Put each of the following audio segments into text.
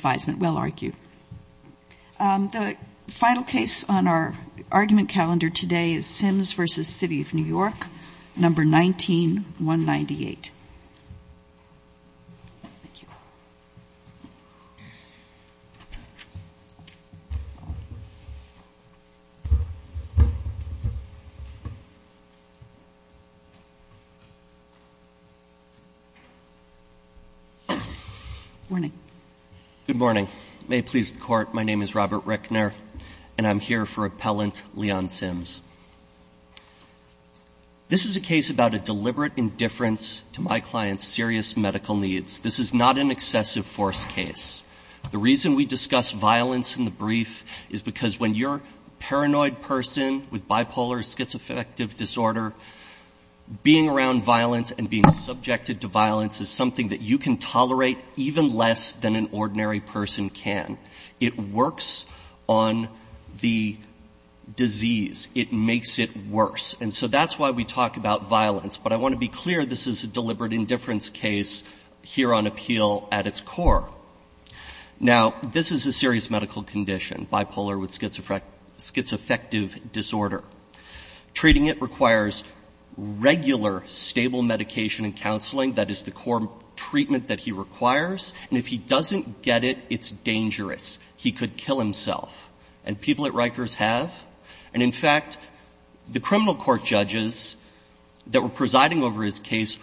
v. New York, No. 19-198. Good morning. May it please the Court, my name is Robert Reckner, and I'm here for Appellant Leon Sims. This is a case about a deliberate indifference to my client's serious medical needs. This is not an excessive force case. The reason we discuss violence in the brief is because when you're a paranoid person with bipolar or schizoaffective disorder, being around violence and being subjected to violence is something that you can tolerate even less than an ordinary person can. It works on the disease. It makes it worse. And so that's why we talk about violence. But I want to be clear, this is a deliberate indifference case here on appeal at its core. Now, this is a serious medical condition, bipolar with schizoaffective disorder. Treating it requires regular, stable medication and counseling. That is the core treatment that he requires. And if he doesn't get it, it's dangerous. He could kill himself. And people at Rikers have. And in fact, the criminal court judges that were presiding over his case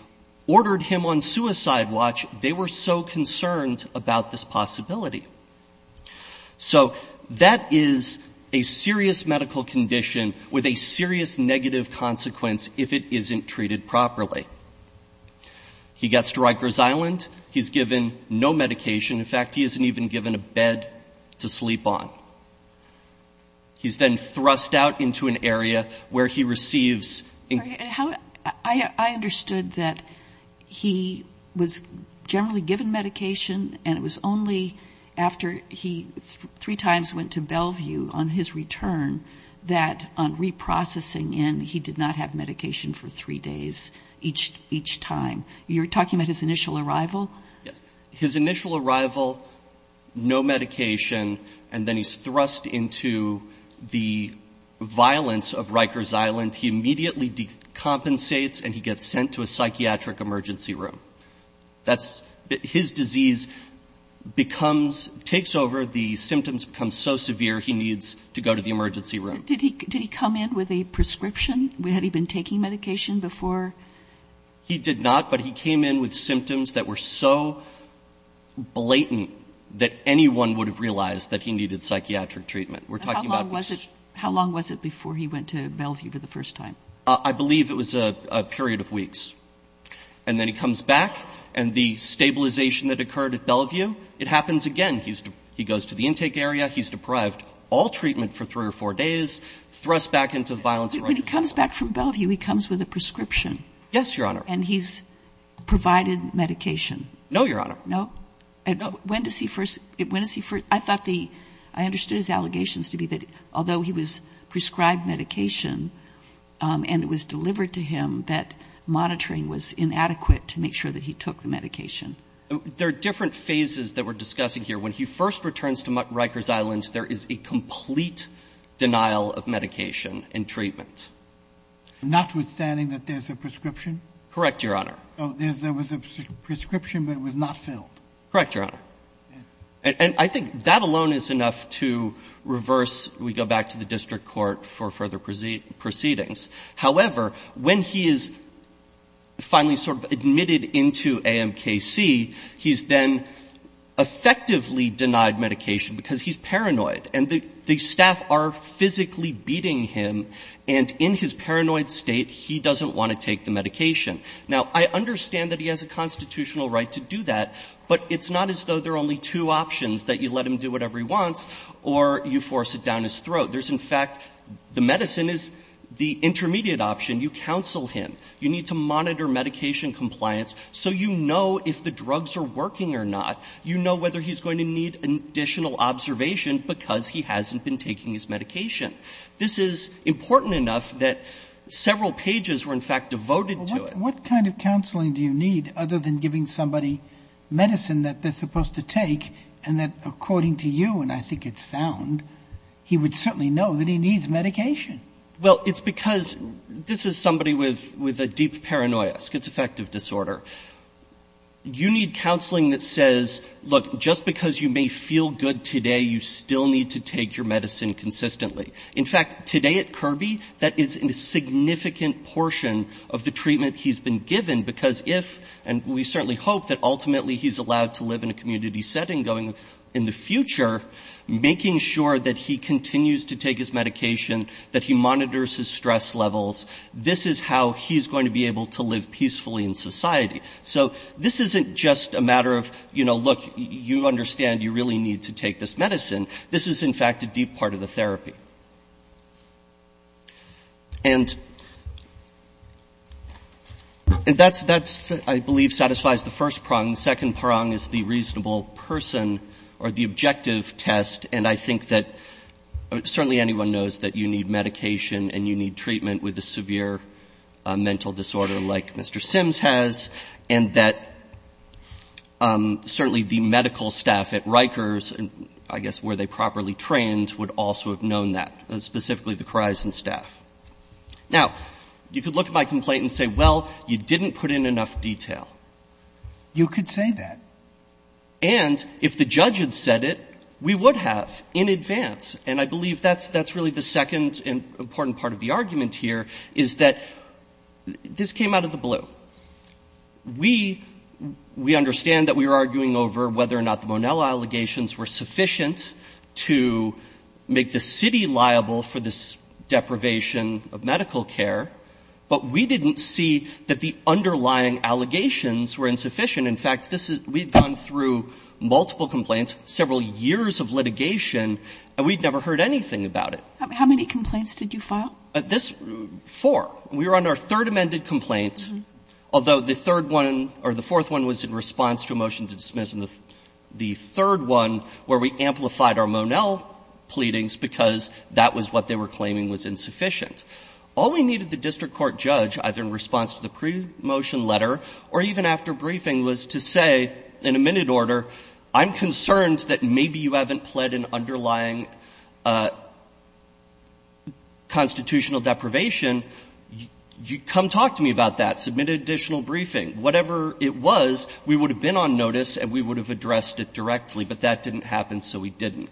ordered him on suicide watch. They were so concerned about this possibility. So that is a serious medical condition with a serious negative consequence if it isn't treated properly. He gets to Rikers Island. He's given no medication. In fact, he isn't even given a bed to sleep on. He's then thrust out into an area where he receives. I understood that he was generally given medication, and it was only after he three times went to Bellevue on his return that on reprocessing in, he did not have medication for three days each time. You're talking about his initial arrival? Yes. His initial arrival, no medication, and then he's thrust into the violence of Rikers Island. He immediately decompensates, and he gets sent to a psychiatric emergency room. His disease takes over. The symptoms become so severe he needs to go to the emergency room. Did he come in with a prescription? Had he been taking medication before? He did not, but he came in with symptoms that were so blatant that anyone would have realized that he needed psychiatric treatment. How long was it before he went to Bellevue for the first time? I believe it was a period of weeks. And then he comes back, and the stabilization that occurred at Bellevue, it happens again. He goes to the intake area. He's deprived all treatment for three or four days, thrust back into violence. When he comes back from Bellevue, he comes with a prescription? Yes, Your Honor. And he's provided medication? No, Your Honor. No? No. When does he first – I thought the – I understood his allegations to be that although he was prescribed medication and it was delivered to him, that monitoring was inadequate to make sure that he took the medication. There are different phases that we're discussing here. When he first returns to Rikers Island, there is a complete denial of medication and treatment. Notwithstanding that there's a prescription? Correct, Your Honor. There was a prescription, but it was not filled. Correct, Your Honor. And I think that alone is enough to reverse – we go back to the district court for further proceedings. However, when he is finally sort of admitted into AMKC, he's then effectively denied medication because he's paranoid. And the staff are physically beating him, and in his paranoid state, he doesn't want to take the medication. Now, I understand that he has a constitutional right to do that, but it's not as though there are only two options, that you let him do whatever he wants or you force it down his throat. There's in fact – the medicine is the intermediate option. You counsel him. You need to monitor medication compliance so you know if the drugs are working or not. You know whether he's going to need additional observation because he hasn't been taking his medication. This is important enough that several pages were in fact devoted to it. But what kind of counseling do you need other than giving somebody medicine that they're supposed to take and that according to you, and I think it's sound, he would certainly know that he needs medication? Well, it's because – this is somebody with a deep paranoia, schizoaffective disorder. You need counseling that says, look, just because you may feel good today, you still need to take your medicine consistently. In fact, today at Kirby, that is a significant portion of the treatment he's been given because if – and we certainly hope that ultimately he's allowed to live in a community setting in the future, making sure that he continues to take his medication, that he monitors his stress levels, this is how he's going to be able to live peacefully in society. So this isn't just a matter of, you know, look, you understand you really need to take this medicine. This is in fact a deep part of the therapy. And that's, I believe, satisfies the first prong. The second prong is the reasonable person or the objective test, and I think that certainly anyone knows that you need medication and you need treatment with a severe mental disorder like Mr. Sims has and that certainly the medical staff at Kirby has done that, specifically the Khoraisen staff. Now, you could look at my complaint and say, well, you didn't put in enough detail. You could say that. And if the judge had said it, we would have in advance. And I believe that's really the second important part of the argument here is that this came out of the blue. We understand that we are arguing over whether or not the Monell allegations were sufficient to make the city liable for this deprivation of medical care, but we didn't see that the underlying allegations were insufficient. In fact, this is we've gone through multiple complaints, several years of litigation, and we'd never heard anything about it. How many complaints did you file? Four. We were on our third amended complaint, although the third one or the fourth one was in response to a motion to dismiss, and the third one where we amplified our Monell pleadings because that was what they were claiming was insufficient. All we needed the district court judge, either in response to the pre-motion letter or even after briefing, was to say, in a minute order, I'm concerned that maybe you haven't pled an underlying constitutional deprivation. You come talk to me about that. Submit an additional briefing. Whatever it was, we would have been on notice and we would have addressed it directly, but that didn't happen, so we didn't.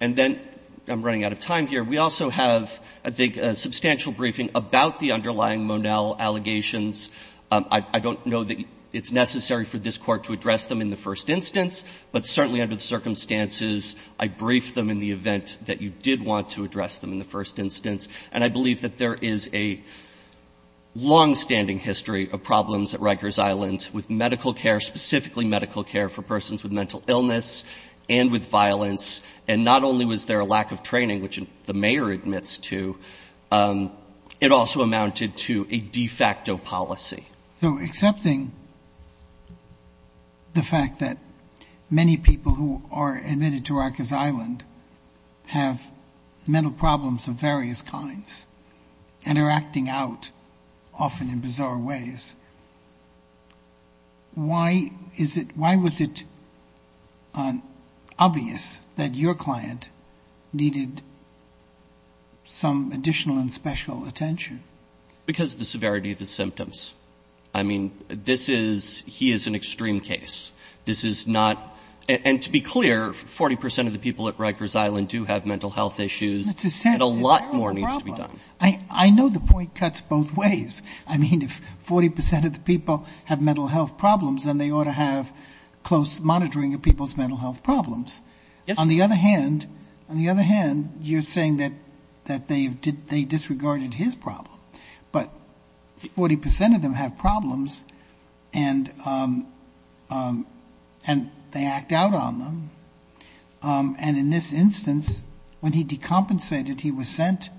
And then I'm running out of time here. We also have, I think, a substantial briefing about the underlying Monell allegations. I don't know that it's necessary for this Court to address them in the first instance, but certainly under the circumstances, I briefed them in the event that you did want to address them in the first instance, and I believe that there is a longstanding history of problems at Rikers Island with medical care, specifically medical care for persons with mental illness and with violence, and not only was there a lack of training, which the mayor admits to, it also amounted to a de facto policy. So accepting the fact that many people who are admitted to Rikers Island have mental problems of various kinds and are acting out often in bizarre ways, why is it — why was it obvious that your client needed some additional and special attention? Because of the severity of his symptoms. I mean, this is — he is an extreme case. This is not — and to be clear, 40 percent of the people at Rikers Island do have mental health issues. And a lot more needs to be done. I know the point cuts both ways. I mean, if 40 percent of the people have mental health problems, then they ought to have close monitoring of people's mental health problems. On the other hand, you're saying that they disregarded his problem. But 40 percent of them have problems, and they act out on them. And in this instance, when he decompensated, he was sent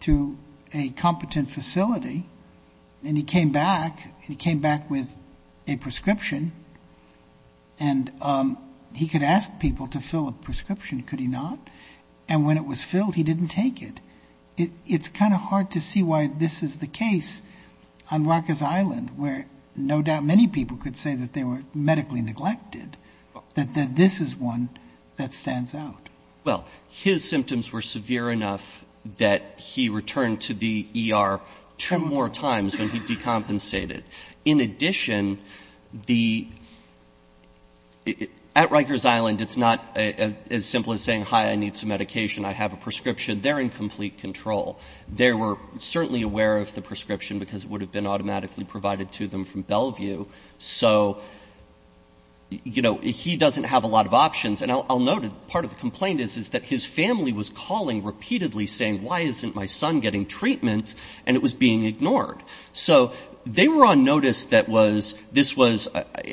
to a competent facility, and he came back, and he came back with a prescription. And he could ask people to fill a prescription, could he not? And when it was filled, he didn't take it. It's kind of hard to see why this is the case on Rikers Island, where no doubt many people could say that they were medically neglected, that this is one that stands out. Well, his symptoms were severe enough that he returned to the ER two more times when he decompensated. In addition, at Rikers Island, it's not as simple as saying, hi, I need some medication, I have a prescription. They're in complete control. So, you know, he doesn't have a lot of options. And I'll note that part of the complaint is that his family was calling repeatedly saying, why isn't my son getting treatment? And it was being ignored. So they were on notice that this was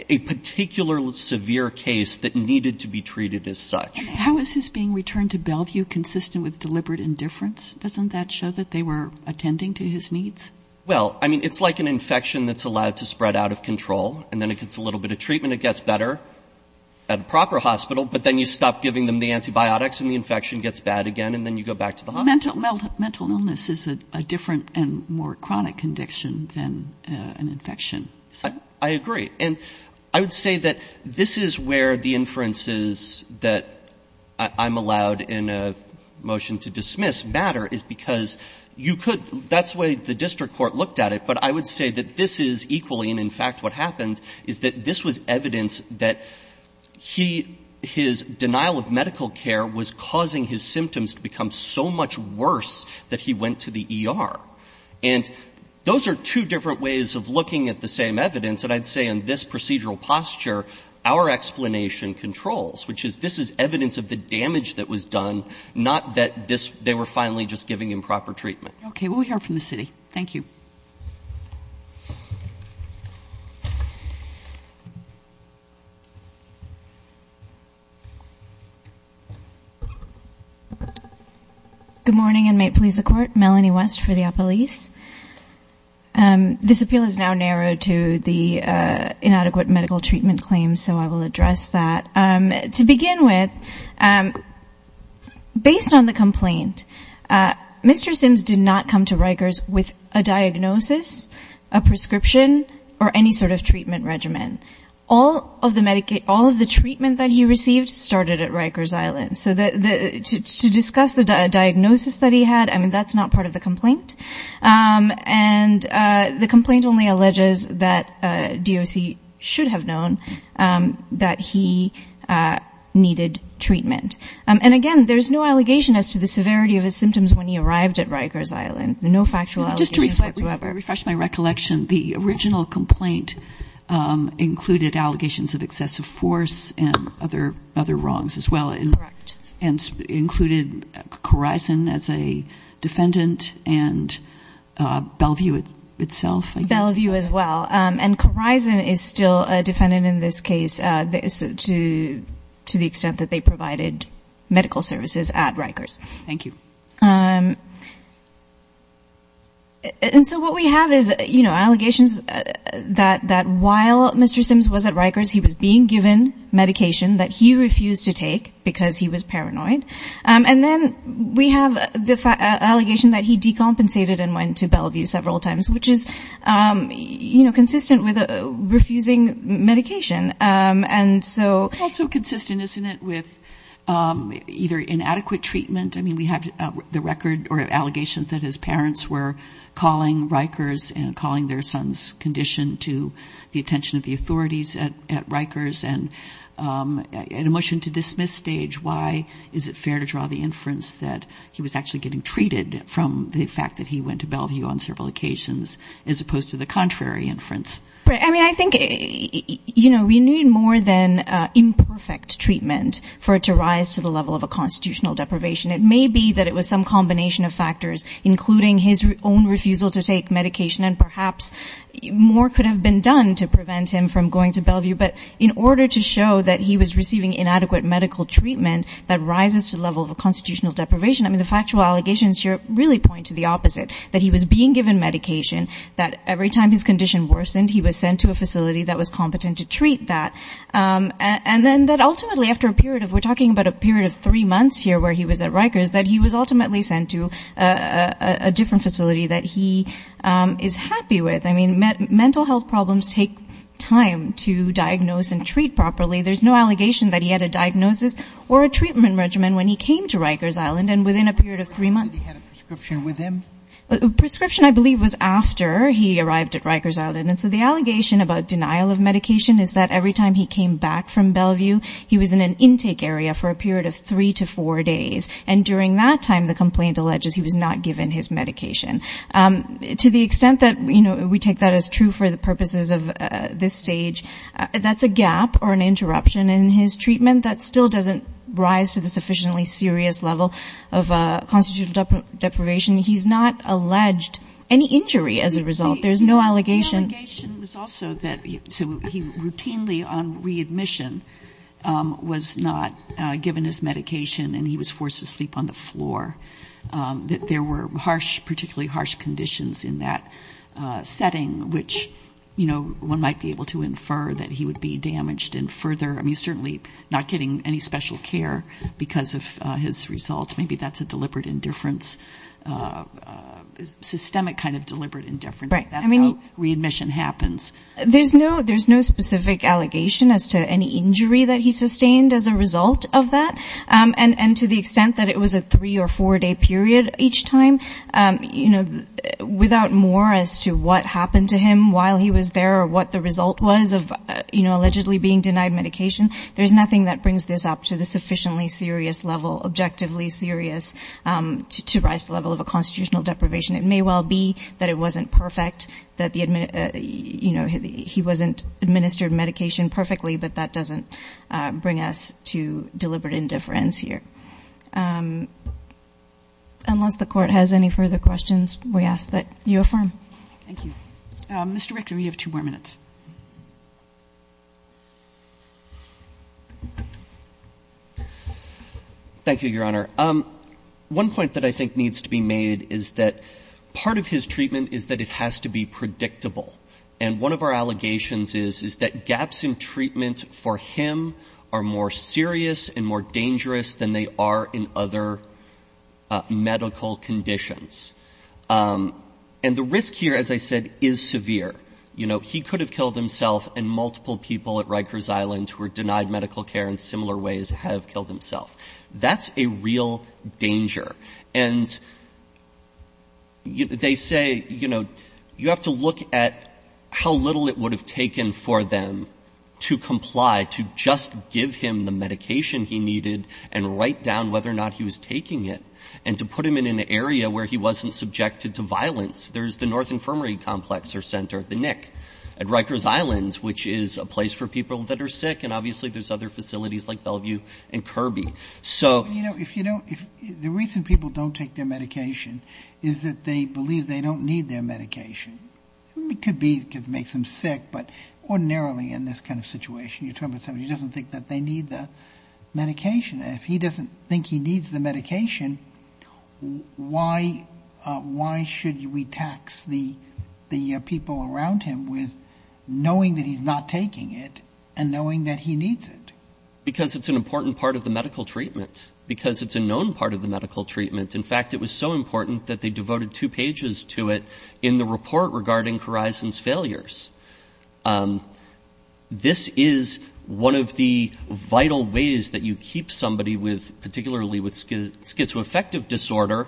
a particularly severe case that needed to be treated as such. How is his being returned to Bellevue consistent with deliberate indifference? Doesn't that show that they were attending to his needs? Well, I mean, it's like an infection that's allowed to spread out of control, and then it gets a little bit of treatment, it gets better at a proper hospital, but then you stop giving them the antibiotics and the infection gets bad again, and then you go back to the hospital. Mental illness is a different and more chronic condition than an infection. I agree. And I would say that this is where the inferences that I'm allowed in a motion to dismiss matter is because you could — that's the way the district court looked at it. But I would say that this is equally, and in fact what happened, is that this was evidence that he — his denial of medical care was causing his symptoms to become so much worse that he went to the ER. And those are two different ways of looking at the same evidence. And I'd say in this procedural posture, our explanation controls, which is this is evidence of the damage that was done, not that they were finally just giving improper treatment. Okay. Well, we'll hear from the city. Thank you. Good morning, and may it please the Court. Melanie West for the Appellees. This appeal is now narrowed to the inadequate medical treatment claims, so I will address that. To begin with, based on the complaint, Mr. Sims did not come to Rikers with a diagnosis, a prescription, or any sort of treatment regimen. All of the treatment that he received started at Rikers Island. So to discuss the diagnosis that he had, I mean, that's not part of the complaint. And the complaint only alleges that DOC should have known that he needed treatment. And, again, there's no allegation as to the severity of his symptoms when he arrived at Rikers Island, no factual allegations whatsoever. Just to refresh my recollection, the original complaint included allegations of excessive force and other wrongs as well. Correct. And included Corizon as a defendant and Bellevue itself, I guess. Bellevue as well. And Corizon is still a defendant in this case to the extent that they provided medical services at Rikers. Thank you. And so what we have is, you know, allegations that while Mr. Sims was at Rikers, he was being given medication that he refused to take because he was paranoid. And then we have the allegation that he decompensated and went to Bellevue several times, which is, you know, consistent with refusing medication. And so also consistent, isn't it, with either inadequate treatment. I mean, we have the record or allegations that his parents were calling Rikers and calling their son's condition to the attention of the authorities at Rikers. And in a motion to dismiss stage, why is it fair to draw the inference that he was actually getting treated from the fact that he went to Bellevue on several occasions as opposed to the contrary inference? I mean, I think, you know, we need more than imperfect treatment for it to rise to the level of a constitutional deprivation. It may be that it was some combination of factors, including his own refusal to take medication, and perhaps more could have been done to prevent him from going to Bellevue. But in order to show that he was receiving inadequate medical treatment that rises to the level of a constitutional deprivation, I mean, the factual allegations here really point to the opposite, that he was being given medication, that every time his condition worsened, he was sent to a facility that was competent to treat that. And then that ultimately, after a period of, we're talking about a period of three months here where he was at Rikers, that he was ultimately sent to a different facility that he is happy with. I mean, mental health problems take time to diagnose and treat properly. There's no allegation that he had a diagnosis or a treatment regimen when he came to Rikers Island, and within a period of three months. Prescription, I believe, was after he arrived at Rikers Island. And so the allegation about denial of medication is that every time he came back from Bellevue, he was in an intake area for a period of three to four days. And during that time, the complaint alleges he was not given his medication. To the extent that, you know, we take that as true for the purposes of this stage, that's a gap or an interruption in his treatment that still doesn't rise to the sufficiently serious level of constitutional deprivation. He's not alleged any injury as a result. There's no allegation. The allegation was also that he routinely, on readmission, was not given his medication, and he was forced to sleep on the floor, that there were harsh, particularly harsh conditions in that setting, which, you know, one might be able to infer that he would be damaged and further, I mean, certainly not getting any special care because of his results. Maybe that's a deliberate indifference, systemic kind of deliberate indifference. That's how readmission happens. There's no specific allegation as to any injury that he sustained as a result of that. And to the extent that it was a three- or four-day period each time, you know, without more as to what happened to him while he was there or what the result was of, you know, allegedly being denied medication, there's nothing that brings this up to the sufficiently serious level, objectively serious, to rise to the level of a constitutional deprivation. It may well be that it wasn't perfect, that the, you know, he wasn't administered medication perfectly, but that doesn't bring us to deliberate indifference here. Unless the Court has any further questions, we ask that you affirm. Thank you. Mr. Richter, you have two more minutes. Thank you, Your Honor. One point that I think needs to be made is that part of his treatment is that it has to be predictable. And one of our allegations is, is that gaps in treatment for him are more serious and more dangerous than they are in other medical conditions. And the risk here, as I said, is severe. You know, he could have killed himself and multiple people at Rikers Island who were denied medical care in similar ways have killed himself. That's a real danger. And they say, you know, you have to look at how little it would have taken for them to comply, to just give him the medication he needed and write down whether or not he was taking it. And to put him in an area where he wasn't subjected to violence, there's the North Infirmary Complex or Center, the NIC, at Rikers Island, which is a place for people that are sick. And obviously there's other facilities like Bellevue and Kirby. The reason people don't take their medication is that they believe they don't need their medication. It could be because it makes them sick, but ordinarily in this kind of situation, you're talking about somebody who doesn't think that they need the medication. If he doesn't think he needs the medication, why should we tax the people around him with knowing that he needs it? Because it's an important part of the medical treatment. Because it's a known part of the medical treatment. In fact, it was so important that they devoted two pages to it in the report regarding Corison's failures. This is one of the vital ways that you keep somebody with, particularly with schizoaffective disorder,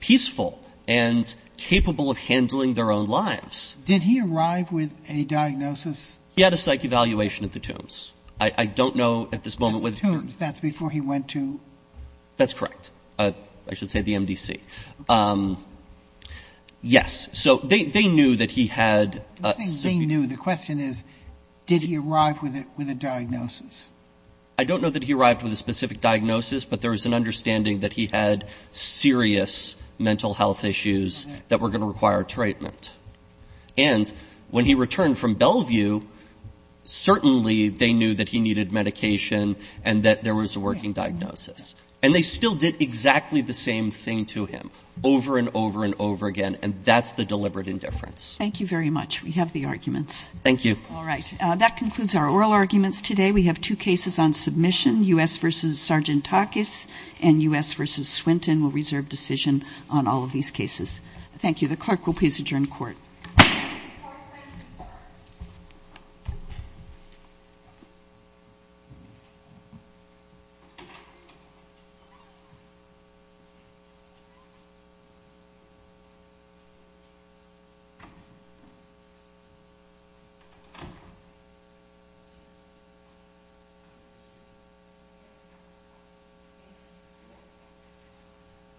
peaceful and capable of handling their own lives. Did he arrive with a diagnosis? He had a psych evaluation at the Tombs. I don't know at this moment whether he... At the Tombs. That's before he went to... That's correct. I should say the MDC. Yes. So they knew that he had... The question is, did he arrive with a diagnosis? I don't know that he arrived with a specific diagnosis, but there was an understanding that he had serious mental health issues that were going to require treatment. And when he returned from Bellevue, certainly they knew that he needed medication and that there was a working diagnosis. And they still did exactly the same thing to him over and over and over again. And that's the deliberate indifference. Thank you very much. We have the arguments. Thank you. All right. That concludes our oral arguments today. We have two cases on submission, U.S. v. Sargentakis and U.S. v. Swinton. We'll reserve decision on all of these cases. Thank you.